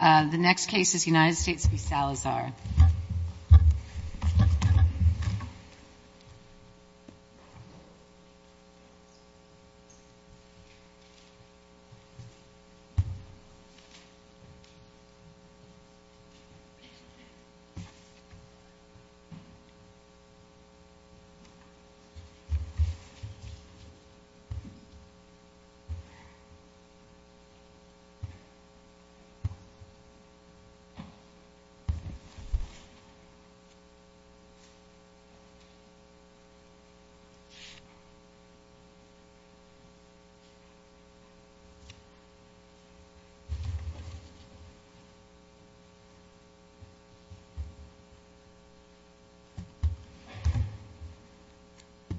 The next case is United States v. Salazar.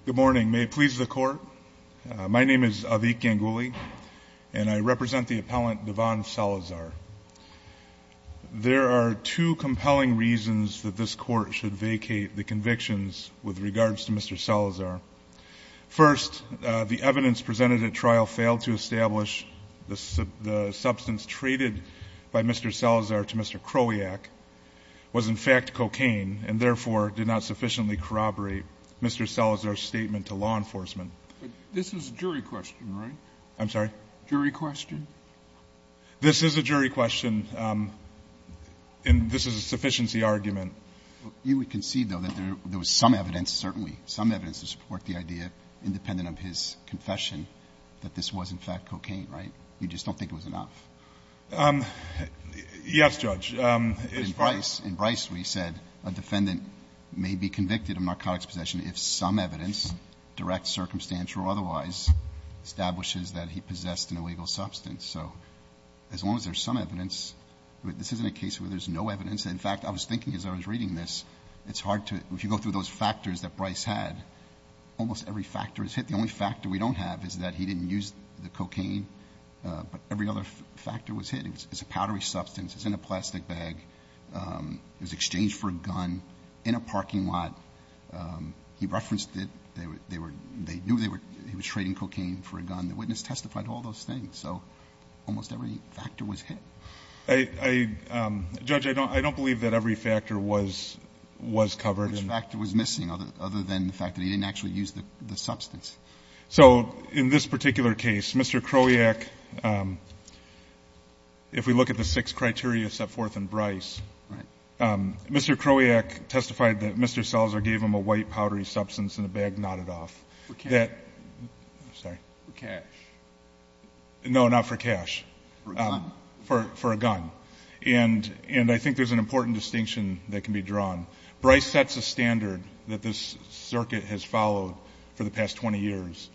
Good morning, may it please the court, my name is Avik Ganguly and I represent the appellant Devon Salazar. There are two compelling reasons that this court should vacate the convictions with regards to Mr. Salazar. First, the evidence presented at trial failed to establish the substance traded by Mr. Salazar to Mr. Kroliak was in fact cocaine and therefore did not sufficiently corroborate Mr. Salazar's statement to law enforcement. Second, the evidence presented at trial failed to establish the substance traded by Mr. Salazar to Mr. Kroliak was in fact cocaine and therefore did not sufficiently corroborate Mr. Kroliak's statement to law enforcement, and third, the evidence presented at trial failed to establish the substance traded by Mr. Salazar to Mr. Kroliak was in fact cocaine and therefore did not sufficiently corroborate Mr. Kroliak's statement If we look at the six criteria set forth in Bryce, Mr. Kroliak testified that Mr. Salazar gave him a white powdery substance in a bag knotted off. That, I'm sorry, no, not for cash, for a gun. And I think there's an important distinction that can be drawn. Bryce sets a standard that this circuit has followed for the past 20 years,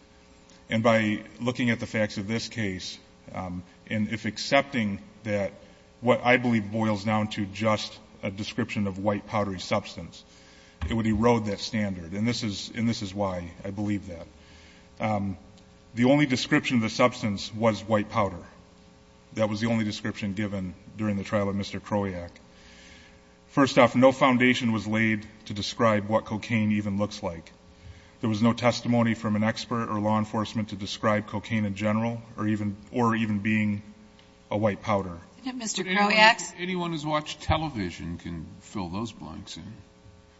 and by looking at the facts of this case, and if accepting that what I believe boils down to just a description of white powdery substance, it would erode that standard, and this is why I believe that. The only description of the substance was white powder. That was the only description given during the trial of Mr. Kroliak. First off, no foundation was laid to describe what cocaine even looks like. There was no or even being a white powder. But anyone who's watched television can fill those blanks in.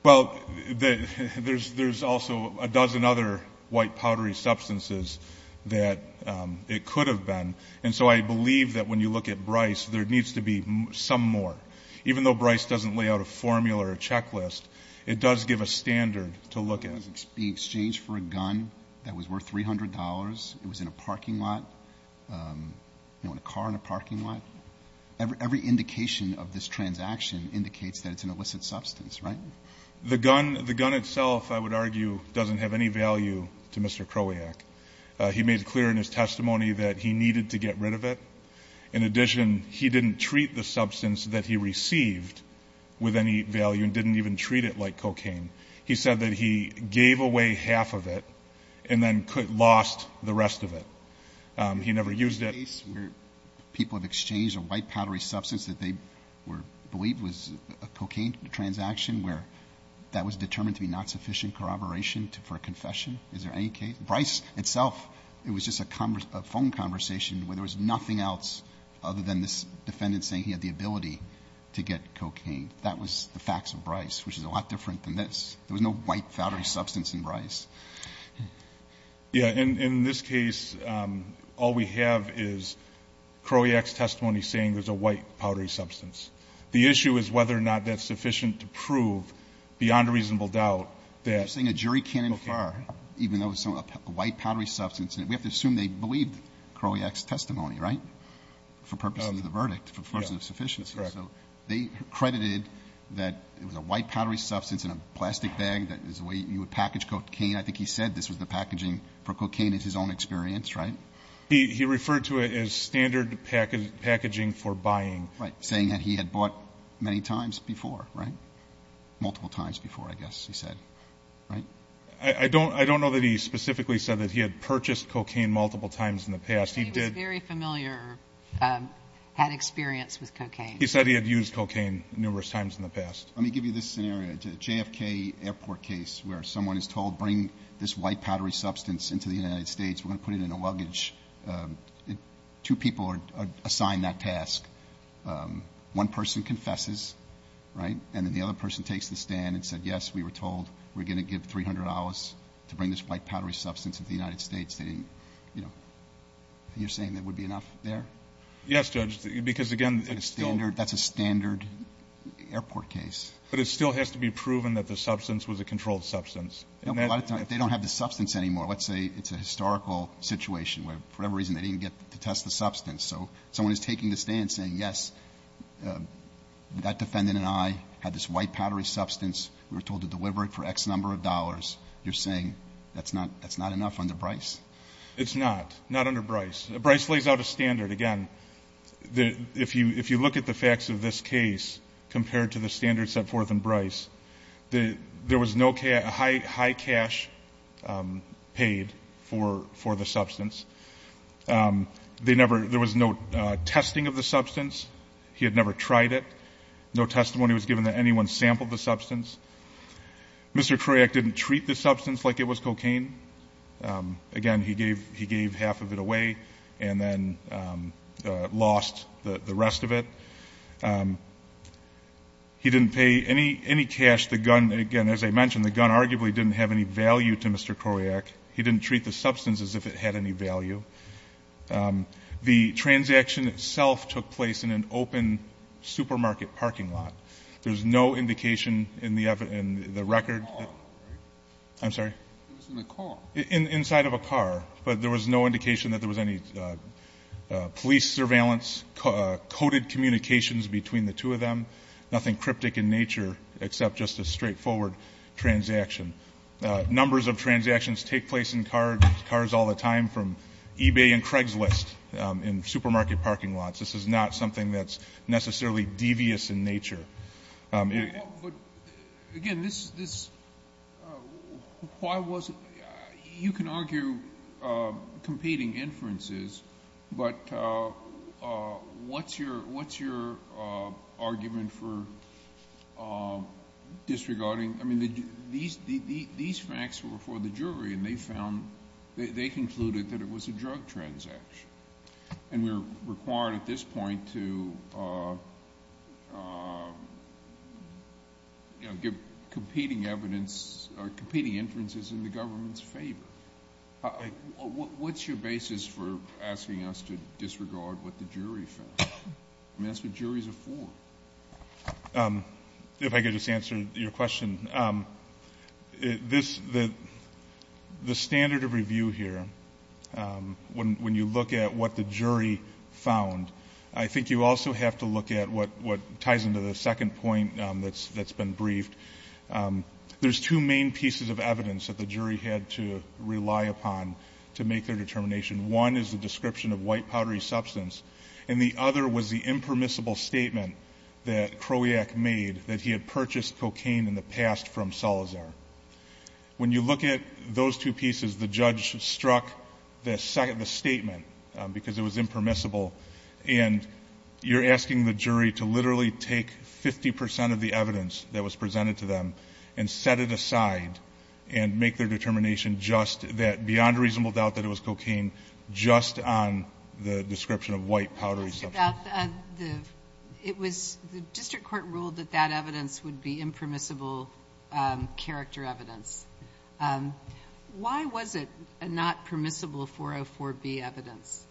Well, there's also a dozen other white powdery substances that it could have been. And so I believe that when you look at Bryce, there needs to be some more. Even though Bryce doesn't lay out a formula or a checklist, it does give a standard to look at. The gun itself, I would argue, doesn't have any value to Mr. Kroliak. He made clear in his testimony that he needed to get rid of it. In addition, he didn't treat the substance that he received with any value and didn't even treat it like cocaine. He said that he gave away half of it and then lost the rest of it. He never used it. People have exchanged a white powdery substance that they believed was a cocaine transaction where that was determined to be not sufficient corroboration for a confession. Is there any case? Bryce itself, it was just a phone conversation where there was nothing else other than this to get cocaine. That was the facts of Bryce, which is a lot different than this. There was no white powdery substance in Bryce. Yeah. In this case, all we have is Kroliak's testimony saying there's a white powdery substance. The issue is whether or not that's sufficient to prove beyond a reasonable doubt that You're saying a jury can't infer even though it's a white powdery substance. We have to assume they believed Kroliak's testimony, right? For purposes of the verdict, for purposes of sufficiency. They credited that it was a white powdery substance in a plastic bag. That is the way you would package cocaine. I think he said this was the packaging for cocaine is his own experience, right? He referred to it as standard packaging for buying. Saying that he had bought many times before, right? Multiple times before, I guess he said. I don't know that he specifically said that he had purchased cocaine multiple times in the past. He was very familiar, had experience with cocaine. He said he had used cocaine numerous times in the past. Let me give you this scenario. A JFK airport case where someone is told, bring this white powdery substance into the United States. We're going to put it in a luggage. Two people are assigned that task. One person confesses, right? And then the other person takes the stand and said, yes, we were told we're going to give $300 to bring this white powdery substance into the United States. They didn't, you know, you're saying that would be enough there? Yes, Judge, because, again, it's still That's a standard airport case. But it still has to be proven that the substance was a controlled substance. If they don't have the substance anymore, let's say it's a historical situation where for whatever reason they didn't get to test the substance. So someone is taking the stand saying, yes, that defendant and I had this white powdery substance. We were told to deliver it for X number of dollars. You're saying that's not that's not enough under Bryce? It's not. Not under Bryce. Bryce lays out a standard. Again, if you if you look at the facts of this case compared to the standards set forth in Bryce, there was no high cash paid for for the substance. They never there was no testing of the substance. He had never tried it. No testimony was given that anyone sampled the substance. Mr. Kroyak didn't treat the substance like it was cocaine. Again, he gave he gave half of it away and then lost the rest of it. He didn't pay any any cash, the gun again, as I mentioned, the gun arguably didn't have any value to Mr. Kroyak. He didn't treat the substance as if it had any value. The transaction itself took place in an open supermarket parking lot. There's no indication in the in the record. I'm sorry, it was in the car inside of a car, but there was no indication that there was any police surveillance coded communications between the two of them. Nothing cryptic in nature except just a straightforward transaction. Numbers of transactions take place in cars, cars all the time from eBay and Craigslist in supermarket parking lots. This is not something that's necessarily devious in nature. But again, this is why was it you can argue competing inferences, but what's your what's your argument for disregarding? I mean, these these facts were for the jury and they found they concluded that it was a drug transaction and we're required at this point to give competing evidence or competing inferences in the government's favor. What's your basis for asking us to disregard what the jury found? I mean, that's what juries are for. If I could just answer your question. The standard of review here, when you look at what the jury found, I think you also have to look at what ties into the second point that's been briefed. There's two main pieces of evidence that the jury had to rely upon to make their determination. One is the description of white powdery substance and the other was the impermissible statement that Krojak made that he had purchased cocaine in the past from Salazar. When you look at those two pieces, the judge struck the statement because it was impermissible and you're asking the jury to literally take 50% of the evidence that was presented to them and set it aside and make their determination just that beyond reasonable doubt that it was cocaine, just on the description of white powdery substance. It was the district court ruled that that evidence would be impermissible character evidence. Why was it not permissible for a 4B evidence,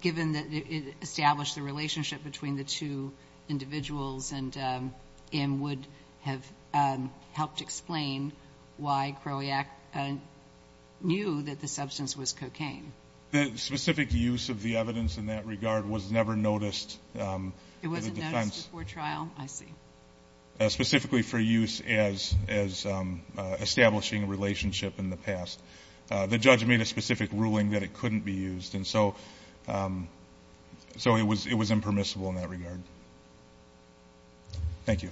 given that it established the relationship between the two individuals and would have helped explain why Krojak knew that the substance was cocaine? The specific use of the evidence in that regard was never noticed. It wasn't noticed before trial, I see. Specifically for use as establishing a relationship in the past. The judge made a specific ruling that it couldn't be used and so it was impermissible in that regard. Thank you.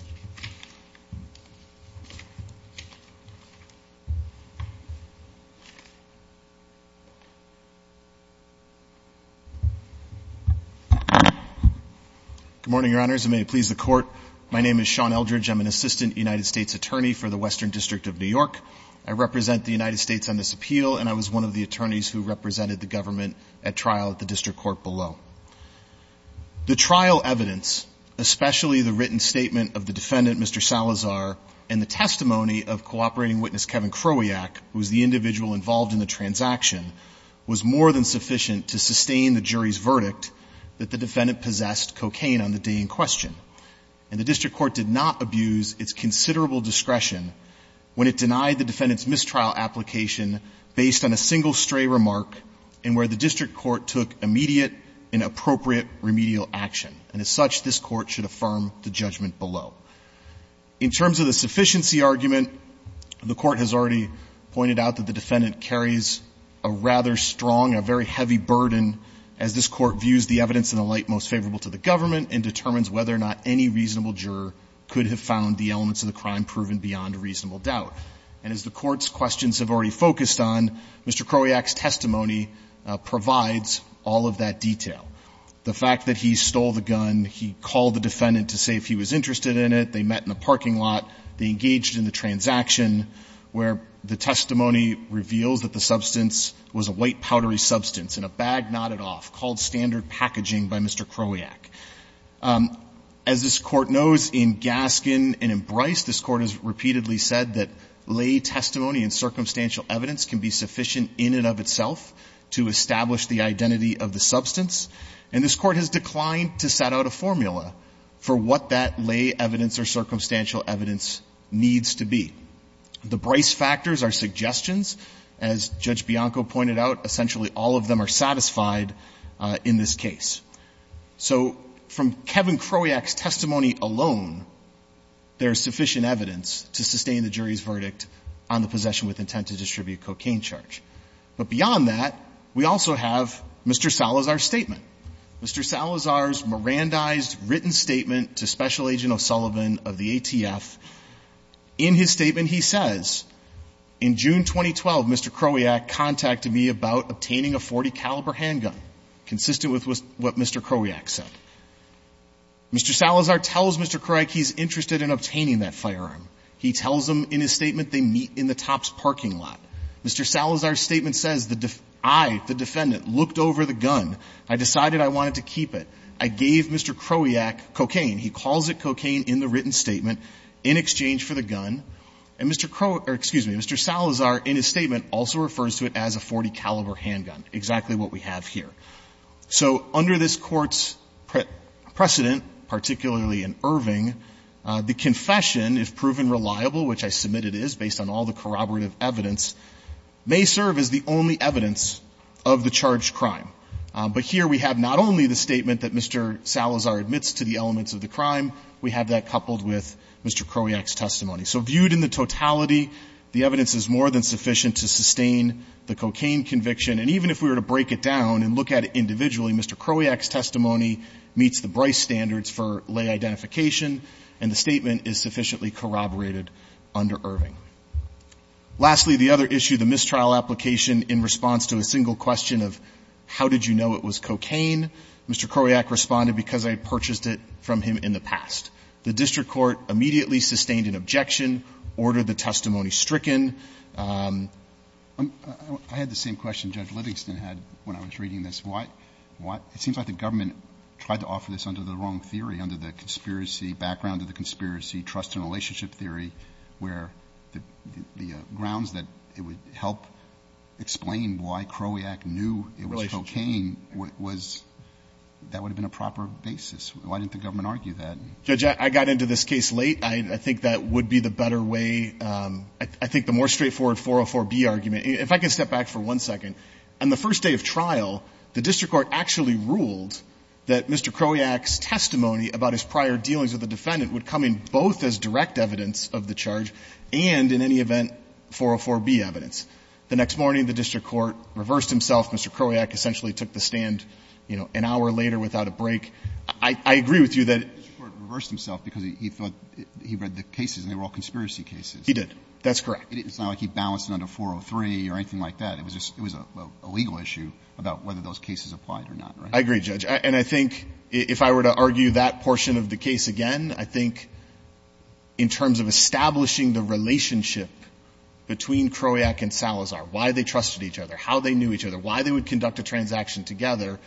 Good morning, your honors, and may it please the court, my name is Sean Eldridge. I'm an assistant United States attorney for the Western District of New York. I represent the United States on this appeal and I was one of the attorneys who represented the government at trial at the district court below. The trial evidence, especially the written statement of the defendant, Mr. Salazar, and the testimony of cooperating witness Kevin Krojak, who was the individual involved in the transaction, was more than sufficient to sustain the jury's verdict that the defendant possessed cocaine on the day in question. And the district court did not abuse its considerable discretion when it denied the defendant's mistrial application based on a single stray remark and where the district court took immediate and appropriate remedial action. And as such, this court should affirm the judgment below. In terms of the sufficiency argument, the court has already pointed out that the defendant carries a rather strong, a very heavy burden as this court views the evidence in the light most favorable to the government and determines whether or not any reasonable juror could have found the elements of the crime proven beyond reasonable doubt. And as the court's questions have already focused on, Mr. Krojak's testimony provides all of that detail. The fact that he stole the gun, he called the defendant to say if he was interested in it, they met in the parking lot, they engaged in the transaction, where the testimony reveals that the substance was a white powdery substance in a bag knotted off, called standard packaging by Mr. Krojak. As this court knows in Gaskin and in Bryce, this court has repeatedly said that lay testimony and circumstantial evidence can be sufficient in and of itself to establish the identity of the substance. And this court has declined to set out a formula for what that lay evidence or circumstantial evidence needs to be. The Bryce factors are suggestions, as Judge Bianco pointed out, essentially all of them are satisfied in this case. So from Kevin Krojak's testimony alone, there is sufficient evidence to sustain the jury's verdict on the possession with intent to distribute cocaine charge. But beyond that, we also have Mr. Salazar's statement. Mr. Salazar's Mirandized written statement to Special Agent O'Sullivan of the ATF. In his statement, he says, in June 2012, Mr. Krojak contacted me about obtaining a .40 caliber handgun, consistent with what Mr. Krojak said. Mr. Salazar tells Mr. Krojak he's interested in obtaining that firearm. He tells him in his statement they meet in the top's parking lot. Mr. Salazar's statement says I, the defendant, looked over the gun. I decided I wanted to keep it. I gave Mr. Krojak cocaine. He calls it cocaine in the written statement in exchange for the gun. And Mr. Salazar in his statement also refers to it as a .40 caliber handgun, exactly what we have here. So under this Court's precedent, particularly in Irving, the confession is proven reliable, which I submit it is based on all the corroborative evidence, may serve as the only evidence of the charged crime. But here we have not only the statement that Mr. Salazar admits to the elements of the crime, we have that coupled with Mr. Krojak's testimony. So viewed in the totality, the evidence is more than sufficient to sustain the cocaine conviction. And even if we were to break it down and look at it individually, Mr. Krojak's testimony meets the Bryce standards for lay identification, and the statement is sufficiently corroborated under Irving. Lastly, the other issue, the mistrial application in response to a single question of how did you know it was cocaine, Mr. Krojak responded because I had purchased it from him in the past. The district court immediately sustained an objection, ordered the testimony stricken. I had the same question Judge Livingston had when I was reading this. It seems like the government tried to offer this under the wrong theory, under the conspiracy, background of the conspiracy, trust and relationship theory, where the grounds that it would help explain why Krojak knew it was cocaine, that would have been a proper basis. Why didn't the government argue that? Judge, I got into this case late. I think that would be the better way. I think the more straightforward 404B argument, if I can step back for one second. On the first day of trial, the district court actually ruled that Mr. Krojak's testimony about his prior dealings with the defendant would come in both as direct evidence of the charge and, in any event, 404B evidence. The next morning, the district court reversed himself. Mr. Krojak essentially took the stand, you know, an hour later without a break. I agree with you that the district court reversed himself because he thought he read the cases and they were all conspiracy cases. He did. That's correct. It's not like he balanced it under 403 or anything like that. It was a legal issue about whether those cases applied or not, right? I agree, Judge. And I think if I were to argue that portion of the case again, I think in terms of establishing the relationship between Krojak and Salazar, why they trusted each other, how they knew each other, why they would conduct a transaction together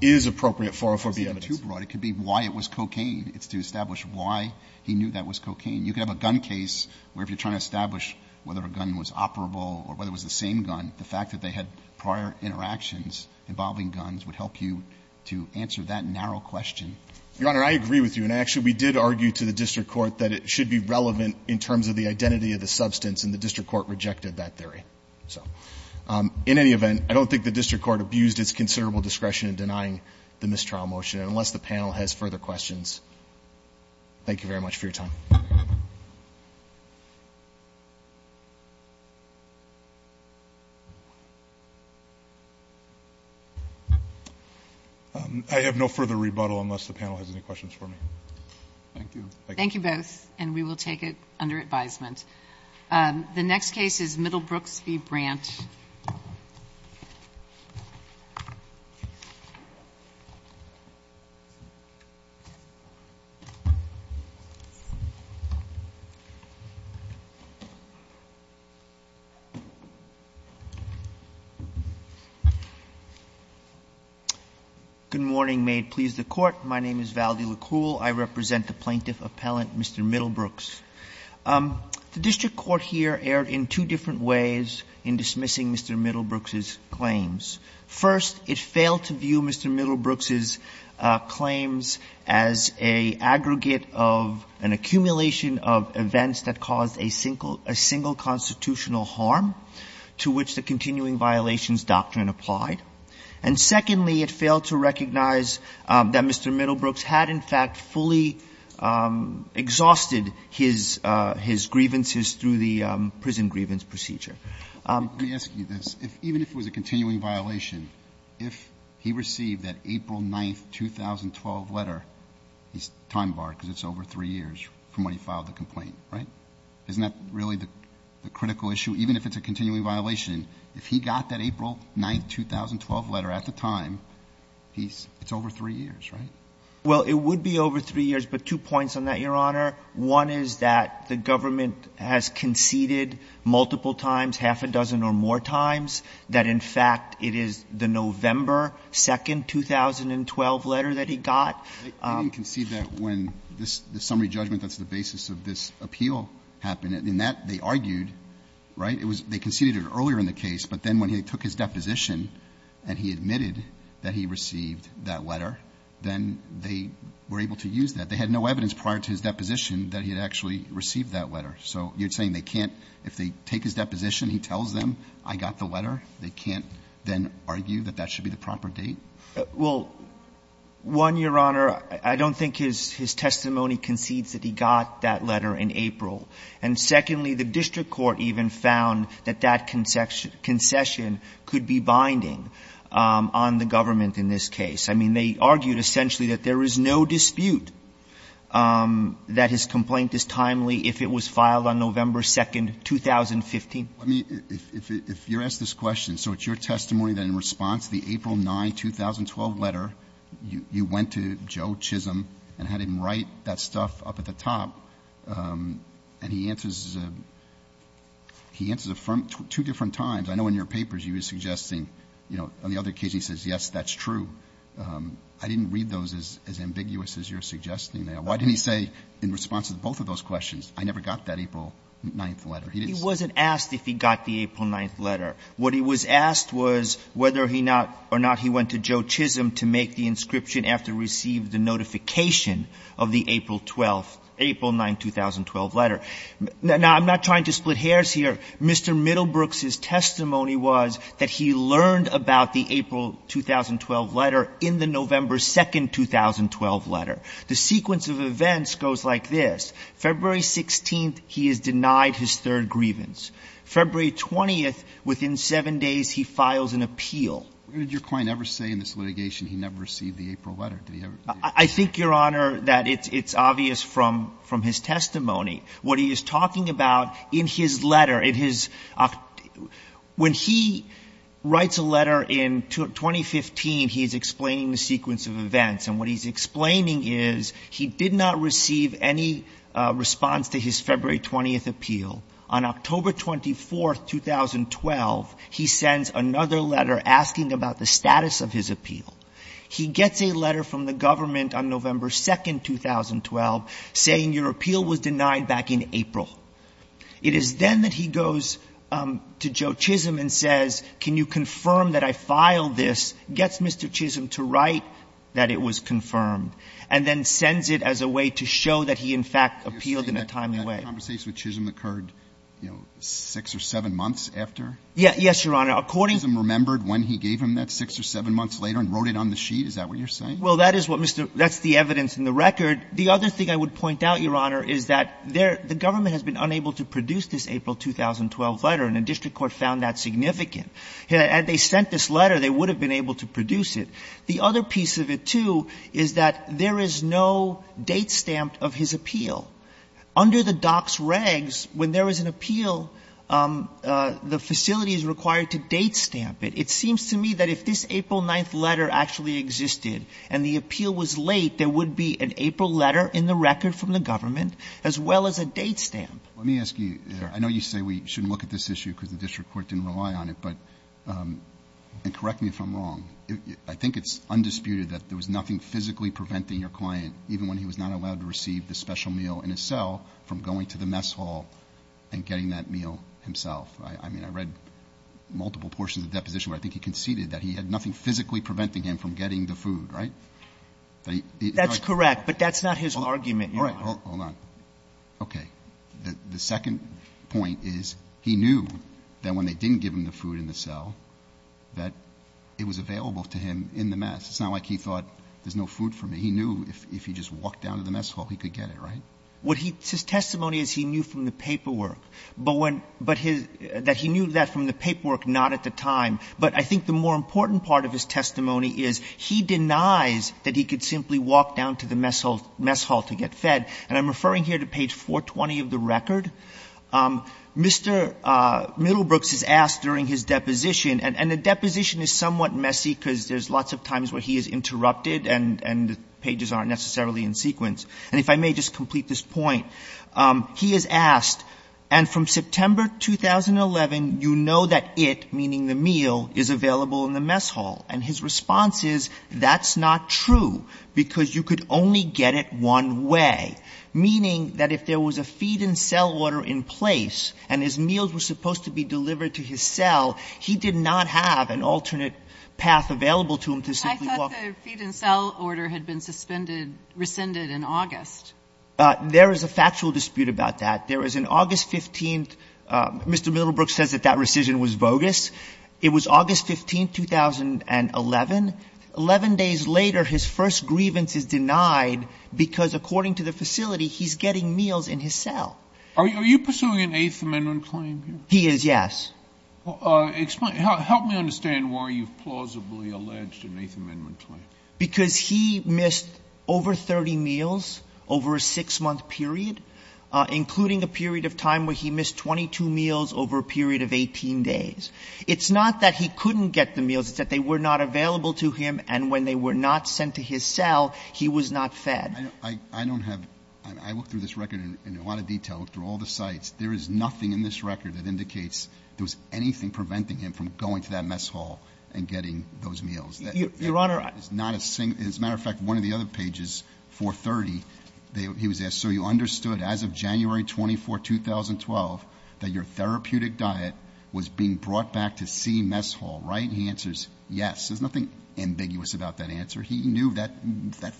is appropriate 404B evidence. It's even too broad. It could be why it was cocaine. It's to establish why he knew that was cocaine. You could have a gun case where if you're trying to establish whether a gun was operable or whether it was the same gun, the fact that they had prior interactions involving guns would help you to answer that narrow question. Your Honor, I agree with you. And actually, we did argue to the district court that it should be relevant in terms of the identity of the substance, and the district court rejected that theory. So in any event, I don't think the district court abused its considerable discretion in denying the mistrial motion. And unless the panel has further questions, thank you very much for your time. I have no further rebuttal unless the panel has any questions for me. Thank you. Thank you both, and we will take it under advisement. The next case is Middlebrooks v. Brandt. Good morning. May it please the Court. My name is Valdi Lacruel. I represent the plaintiff appellant, Mr. Middlebrooks. The district court here erred in two different ways in dismissing Mr. Middlebrooks' claims. First, it failed to view Mr. Middlebrooks' claims as an aggregate of an accumulation of events that caused a single constitutional harm to which the continuing violations doctrine applied. And secondly, it failed to recognize that Mr. Middlebrooks had in fact fully exhausted his grievances through the prison grievance procedure. Let me ask you this. Even if it was a continuing violation, if he received that April 9, 2012 letter, he's time barred because it's over three years from when he filed the complaint, right? Isn't that really the critical issue? Even if it's a continuing violation, if he got that April 9, 2012 letter at the time, it's over three years, right? Well, it would be over three years, but two points on that, Your Honor. One is that the government has conceded multiple times, half a dozen or more times, that in fact it is the November 2, 2012 letter that he got. I didn't concede that when this summary judgment that's the basis of this appeal happened. In that, they argued, right? It was they conceded it earlier in the case, but then when he took his deposition and he admitted that he received that letter, then they were able to use that. They had no evidence prior to his deposition that he had actually received that letter. So you're saying they can't, if they take his deposition, he tells them, I got the letter, they can't then argue that that should be the proper date? Well, one, Your Honor, I don't think his testimony concedes that he got that letter in April. And secondly, the district court even found that that concession could be binding on the government in this case. I mean, they argued essentially that there is no dispute that his complaint is timely if it was filed on November 2, 2015. Let me, if you're asked this question, so it's your testimony that in response to the April 9, 2012 letter, you went to Joe Chisholm and had him write that stuff up at the top, and he answers, he answers affirm two different times. I know in your papers you were suggesting, you know, on the other case he says, yes, that's true. I didn't read those as ambiguous as you're suggesting there. Why didn't he say in response to both of those questions, I never got that April 9th letter? He didn't say that. He wasn't asked if he got the April 9th letter. What he was asked was whether he not or not he went to Joe Chisholm to make the inscription after receiving the notification of the April 12th, April 9, 2012 letter. Now, I'm not trying to split hairs here. Mr. Middlebrooks' testimony was that he learned about the April 2012 letter in the November 2, 2012 letter. The sequence of events goes like this. February 16th, he is denied his third grievance. February 20th, within seven days, he files an appeal. What did your client ever say in this litigation? He never received the April letter. Did he ever? I think, Your Honor, that it's obvious from his testimony. What he is talking about in his letter, in his – when he writes a letter in 2015, he's explaining the sequence of events. And what he's explaining is he did not receive any response to his February 20th appeal. On October 24th, 2012, he sends another letter asking about the status of his appeal. He gets a letter from the government on November 2, 2012, saying your appeal was denied back in April. It is then that he goes to Joe Chisholm and says, can you confirm that I filed this, gets Mr. Chisholm to write that it was confirmed, and then sends it as a way to show that he, in fact, appealed in a timely way. You're saying that conversation with Chisholm occurred, you know, six or seven months after? Yes, Your Honor. According to you, Mr. Chisholm remembered when he gave him that six or seven months later and wrote it on the sheet. Is that what you're saying? Well, that is what Mr. – that's the evidence in the record. The other thing I would point out, Your Honor, is that the government has been unable to produce this April 2012 letter, and the district court found that significant. Had they sent this letter, they would have been able to produce it. The other piece of it, too, is that there is no date stamped of his appeal. Under the docs regs, when there is an appeal, the facility is required to date stamp it. It seems to me that if this April 9th letter actually existed and the appeal was late, there would be an April letter in the record from the government as well as a date stamp. Let me ask you. I know you say we shouldn't look at this issue because the district court didn't rely on it, but – and correct me if I'm wrong. I think it's undisputed that there was nothing physically preventing your client, even when he was not allowed to receive the special meal in his cell, from going to the mess hall and getting that meal himself. I mean, I read multiple portions of the deposition where I think he conceded that he had nothing physically preventing him from getting the food, right? That's correct. But that's not his argument, Your Honor. All right. Hold on. Okay. The second point is he knew that when they didn't give him the food in the cell, that it was available to him in the mess. It's not like he thought there's no food for me. He knew if he just walked down to the mess hall, he could get it, right? What he – his testimony is he knew from the paperwork. But when – but his – that he knew that from the paperwork, not at the time. But I think the more important part of his testimony is he denies that he could simply walk down to the mess hall to get fed. And I'm referring here to page 420 of the record. Mr. Middlebrooks is asked during his deposition – and the deposition is somewhat messy because there's lots of times where he is interrupted and the pages aren't necessarily in sequence. And if I may just complete this point. He is asked, and from September 2011, you know that it, meaning the meal, is available in the mess hall. And his response is, that's not true, because you could only get it one way. Meaning that if there was a feed-in-cell order in place and his meals were supposed to be delivered to his cell, he did not have an alternate path available to him to simply walk – I thought the feed-in-cell order had been suspended – rescinded in August. There is a factual dispute about that. There is an August 15th – Mr. Middlebrooks says that that rescission was bogus. It was August 15, 2011. Eleven days later, his first grievance is denied because, according to the facility, he's getting meals in his cell. Are you pursuing an Eighth Amendment claim here? He is, yes. Help me understand why you've plausibly alleged an Eighth Amendment claim. Because he missed over 30 meals over a 6-month period, including a period of time where he missed 22 meals over a period of 18 days. It's not that he couldn't get the meals. It's that they were not available to him, and when they were not sent to his cell, he was not fed. I don't have – I looked through this record in a lot of detail, looked through all the sites. There is nothing in this record that indicates there was anything preventing him from going to that mess hall and getting those meals. Your Honor – As a matter of fact, one of the other pages, 430, he was asked, so you understood as of January 24, 2012, that your therapeutic diet was being brought back to C mess hall, right? And he answers, yes. There's nothing ambiguous about that answer. He knew that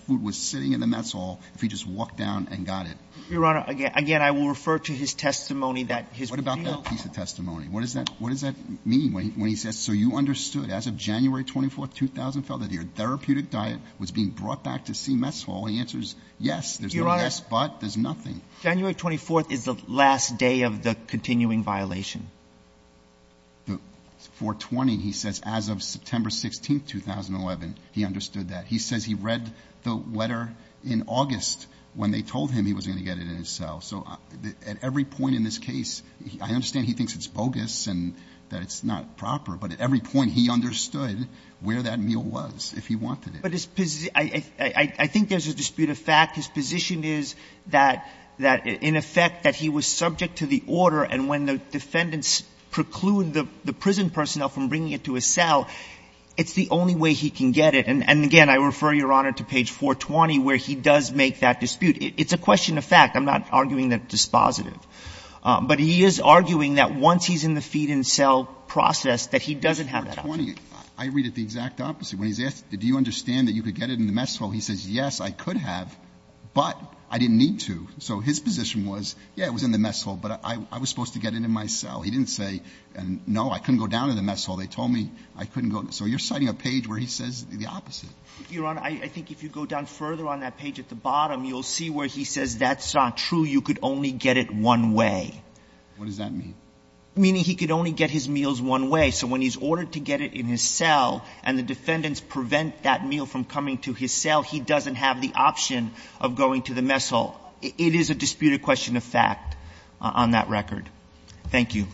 food was sitting in the mess hall if he just walked down and got it. Your Honor, again, I will refer to his testimony that his – What about that piece of testimony? What does that mean when he says, So you understood as of January 24, 2012, that your therapeutic diet was being brought back to C mess hall. He answers, yes. There's no yes but. There's nothing. January 24th is the last day of the continuing violation. The 420, he says, as of September 16, 2011, he understood that. He says he read the letter in August when they told him he was going to get it in his cell. So at every point in this case, I understand he thinks it's bogus and that it's not proper, but at every point he understood where that meal was if he wanted it. But his – I think there's a dispute of fact. His position is that in effect that he was subject to the order and when the defendants preclude the prison personnel from bringing it to his cell, it's the only way he can get it. And again, I refer, Your Honor, to page 420 where he does make that dispute. It's a question of fact. I'm not arguing that it's dispositive. But he is arguing that once he's in the feed-in-cell process that he doesn't have that option. I read it the exact opposite. When he's asked, did you understand that you could get it in the mess hall, he says, yes, I could have, but I didn't need to. So his position was, yes, it was in the mess hall, but I was supposed to get it in my cell. He didn't say, no, I couldn't go down to the mess hall. They told me I couldn't go. So you're citing a page where he says the opposite. Your Honor, I think if you go down further on that page at the bottom, you'll see where he says that's not true. You could only get it one way. What does that mean? Meaning he could only get his meals one way. So when he's ordered to get it in his cell and the defendants prevent that meal from coming to his cell, he doesn't have the option of going to the mess hall. It is a disputed question of fact on that record. Thank you.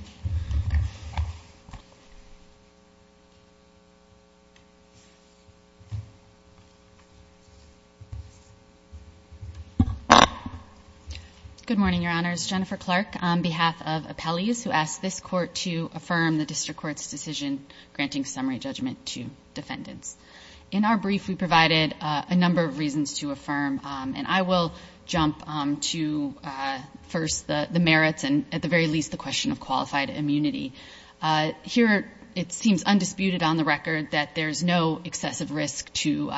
Good morning, Your Honors. Jennifer Clark on behalf of Appellees, who asked this Court to affirm the district court's decision granting summary judgment to defendants. In our brief, we provided a number of reasons to affirm, and I will jump to first the merits and at the very least the question of qualified immunity. Here, it seems undisputed on the record that there's no excessive risk to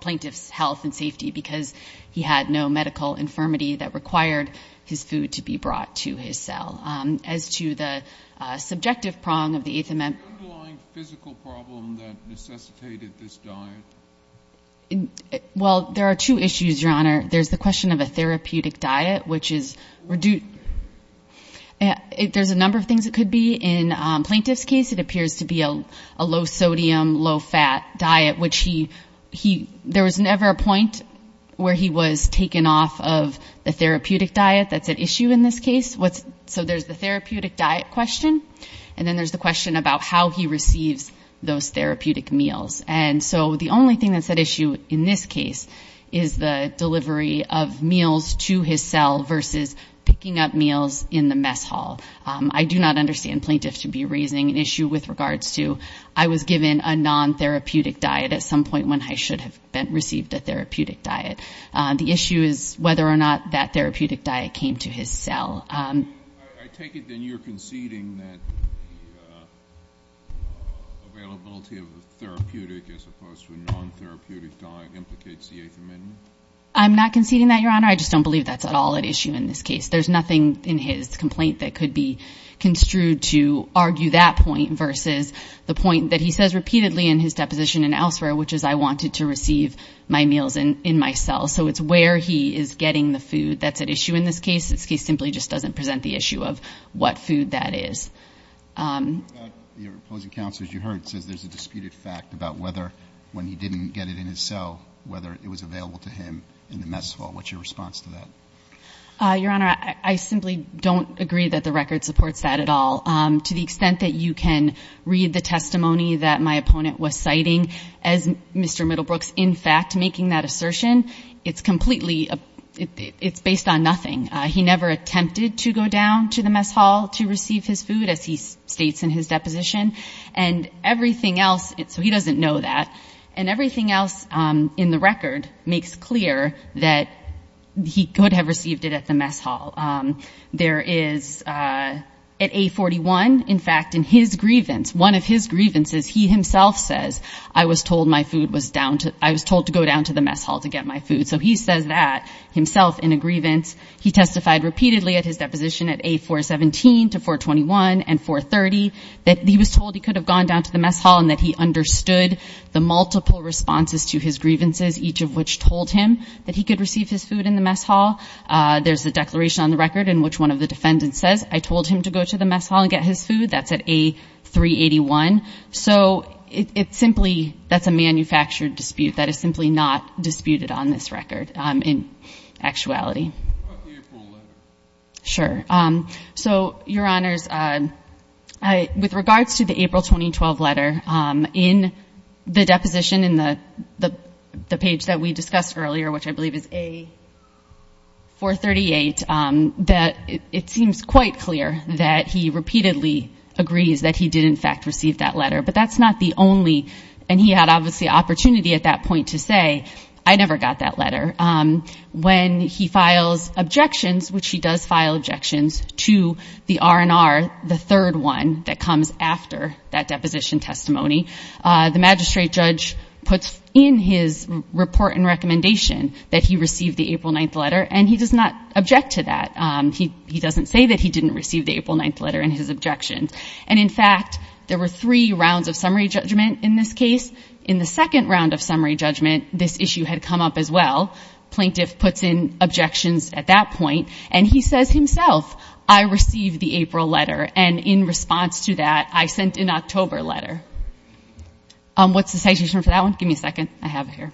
plaintiff's health and safety because he had no medical infirmity that required his food to be brought to his cell. As to the subjective prong of the Eighth Amendment. The underlying physical problem that necessitated this diet? Well, there are two issues, Your Honor. There's the question of a therapeutic diet, which is reduced. There's a number of things it could be. In plaintiff's case, it appears to be a low-sodium, low-fat diet, which he he there was never a point where he was taken off of the therapeutic diet. That's at issue in this case. So there's the therapeutic diet question, and then there's the question about how he receives those therapeutic meals. And so the only thing that's at issue in this case is the delivery of meals to his cell versus picking up meals in the mess hall. I do not understand plaintiffs should be raising an issue with regards to, I was given a non-therapeutic diet at some point when I should have received a therapeutic diet. The issue is whether or not that therapeutic diet came to his cell. I take it then you're conceding that the availability of a therapeutic as opposed to a non-therapeutic diet implicates the Eighth Amendment? I'm not conceding that, Your Honor. I just don't believe that's at all at issue in this case. There's nothing in his complaint that could be construed to argue that point versus the point that he says repeatedly in his deposition and elsewhere, which is I wanted to receive my meals in my cell. So it's where he is getting the food that's at issue in this case. This case simply just doesn't present the issue of what food that is. Your opposing counsel, as you heard, says there's a disputed fact about whether when he didn't get it in his cell, whether it was available to him in the mess hall. What's your response to that? Your Honor, I simply don't agree that the record supports that at all. To the extent that you can read the testimony that my opponent was citing, as Mr. Middlebrooks in fact making that assertion, it's completely, it's based on nothing. He never attempted to go down to the mess hall to receive his food, as he states in his deposition. And everything else, so he doesn't know that, and everything else in the record makes clear that he could have received it at the mess hall. There is at A41, in fact, in his grievance, one of his grievances, he himself says I was told my food was down to, I was told to go down to the mess hall to get my food. So he says that himself in a grievance. He testified repeatedly at his deposition at A417 to 421 and 430 that he was told he could have gone down to the mess hall and that he understood the multiple responses to his grievances, each of which told him that he could receive his food in the mess hall. There's a declaration on the record in which one of the defendants says, I told him to go to the mess hall and get his food. That's at A381. So it simply, that's a manufactured dispute. That is simply not disputed on this record in actuality. What about the April letter? Sure. So, Your Honors, with regards to the April 2012 letter, in the deposition in the page that we discussed earlier, which I believe is A438, it seems quite clear that he repeatedly agrees that he did, in fact, receive that letter. But that's not the only, and he had obviously opportunity at that point to say, I never got that letter. When he files objections, which he does file objections to the R&R, the third one that comes after that deposition testimony, the magistrate judge puts in his report and recommendation that he receive the April 9th letter, and he does not object to that. He doesn't say that he didn't receive the April 9th letter in his objections. And in fact, there were three rounds of summary judgment in this case. In the second round of summary judgment, this issue had come up as well. Plaintiff puts in objections at that point, and he says himself, I received the April letter, and in response to that, I sent an October letter. What's the citation for that one? Give me a second. I have it here.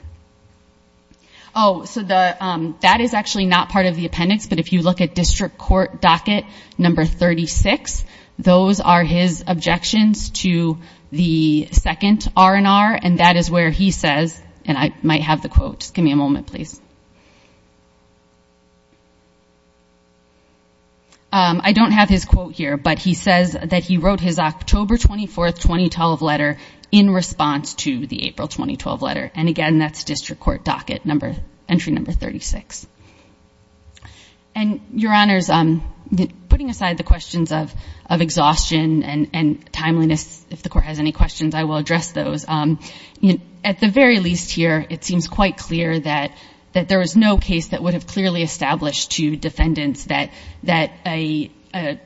Oh, so that is actually not part of the appendix, but if you look at district court docket number 36, those are his objections to the second R&R, and that is where he says, and I might have the quote. Just give me a moment, please. I don't have his quote here, but he says that he wrote his October 24, 2012 letter in response to the April 2012 letter. And again, that's district court docket entry number 36. And, Your Honors, putting aside the questions of exhaustion and timeliness, if the Court has any questions, I will address those. At the very least here, it seems quite clear that there was no case that would have clearly established to defendants that an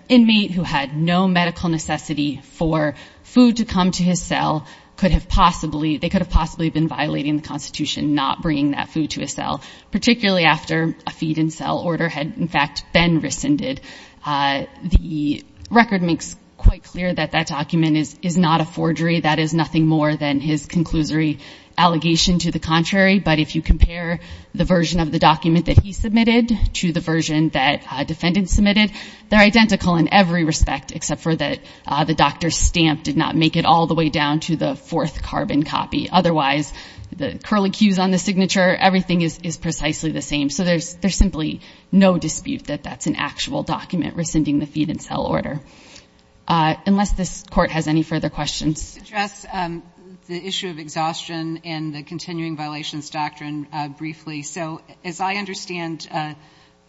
inmate who had no medical necessity for food to come to his cell could have possibly, possibly been violating the Constitution, not bringing that food to his cell, particularly after a feed-in-cell order had, in fact, been rescinded. The record makes quite clear that that document is not a forgery. That is nothing more than his conclusory allegation to the contrary. But if you compare the version of the document that he submitted to the version that defendants submitted, they're identical in every respect, except for that the doctor's stamp did not make it all the way down to the fourth carbon copy. Otherwise, the curlicues on the signature, everything is precisely the same. So there's simply no dispute that that's an actual document rescinding the feed-in-cell order. Unless this Court has any further questions. I'll address the issue of exhaustion and the continuing violations doctrine briefly. So as I understand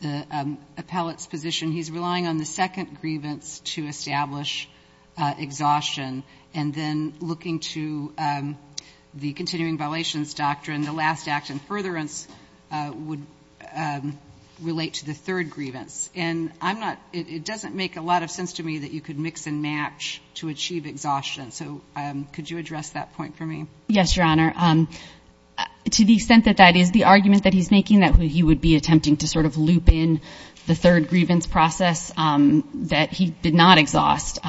the appellate's position, he's relying on the second grievance to establish exhaustion and then looking to the continuing violations doctrine, the last act in furtherance would relate to the third grievance. And I'm not — it doesn't make a lot of sense to me that you could mix and match to achieve exhaustion. So could you address that point for me? Yes, Your Honor. To the extent that that is the argument that he's making, that he would be attempting to sort of loop in the third grievance process that he did not exhaust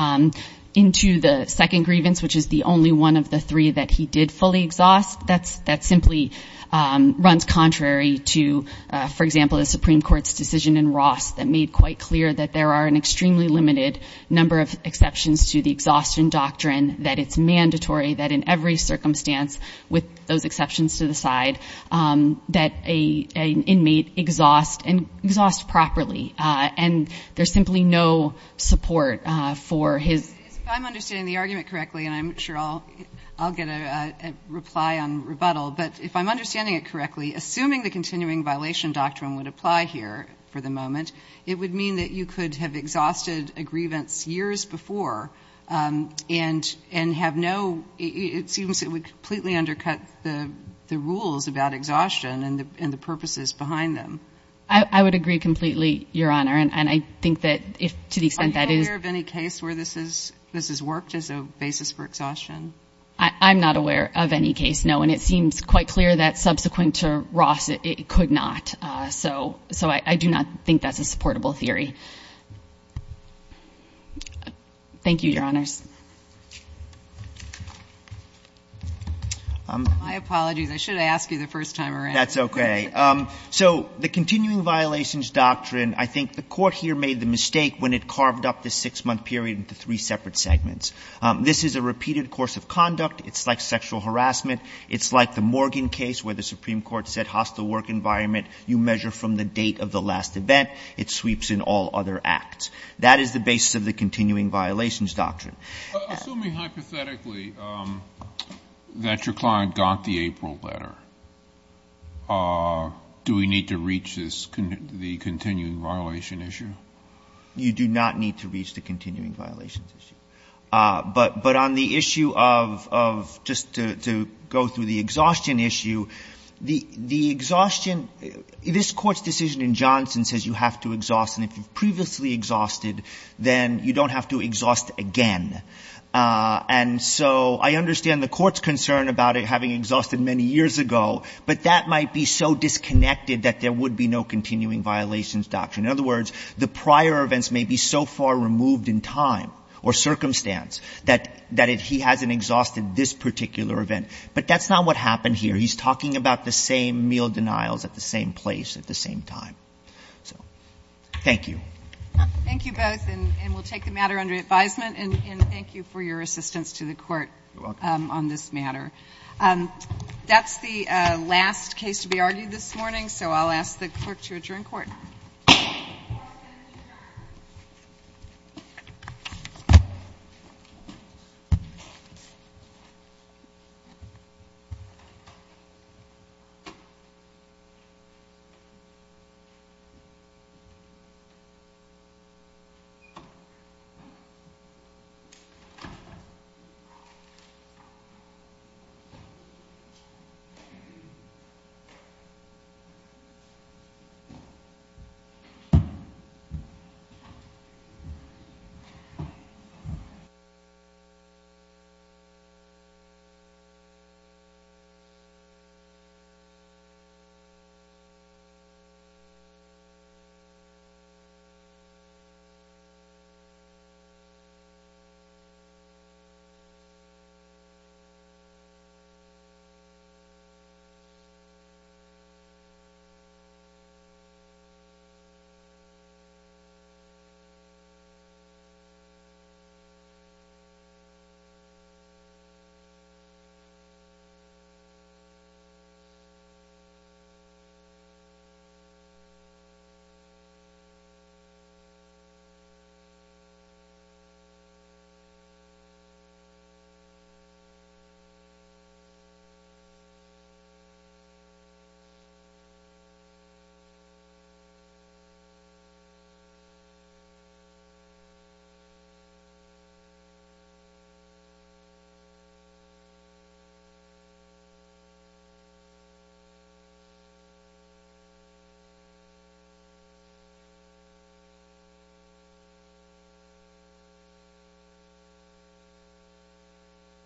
into the second grievance, which is the only one of the three that he did fully exhaust, that simply runs contrary to, for example, the Supreme Court's decision in Ross that made quite clear that there are an extremely limited number of exceptions to the exhaustion doctrine, that it's mandatory that in every circumstance, with those exceptions to the side, that an inmate exhaust properly. And there's simply no support for his — If I'm understanding the argument correctly, and I'm sure I'll get a reply on rebuttal, but if I'm understanding it correctly, assuming the continuing violation doctrine would apply here for the moment, it would mean that you could have exhausted a grievance years before and have no — it seems it would completely undercut the rules about exhaustion and the purposes behind them. I would agree completely, Your Honor. And I think that to the extent that is — Are you aware of any case where this has worked as a basis for exhaustion? I'm not aware of any case, no. And it seems quite clear that subsequent to Ross, it could not. So I do not think that's a supportable theory. Thank you, Your Honors. My apologies. I should have asked you the first time around. That's okay. So the continuing violations doctrine, I think the Court here made the mistake when it carved up the six-month period into three separate segments. This is a repeated course of conduct. It's like sexual harassment. It's like the Morgan case where the Supreme Court said hostile work environment you measure from the date of the last event. It sweeps in all other acts. That is the basis of the continuing violations doctrine. Assuming hypothetically that your client got the April letter, do we need to reach the continuing violation issue? You do not need to reach the continuing violations issue. But on the issue of — just to go through the exhaustion issue, the exhaustion — this Court's decision in Johnson says you have to exhaust, and if you've previously exhausted, then you don't have to exhaust again. And so I understand the Court's concern about it having exhausted many years ago, but that might be so disconnected that there would be no continuing violations doctrine. In other words, the prior events may be so far removed in time or circumstance that he hasn't exhausted this particular event. But that's not what happened here. He's talking about the same meal denials at the same place at the same time. So thank you. Thank you both. And we'll take the matter under advisement, and thank you for your assistance to the Court on this matter. You're welcome. That's the last case to be argued this morning, so I'll ask the clerk to adjourn court. Thank you. Thank you. Thank you. Thank you.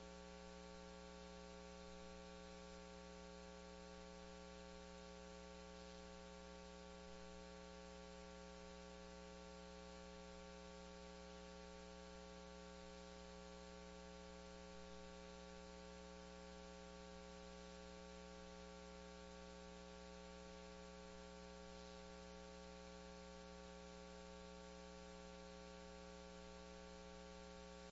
Thank you.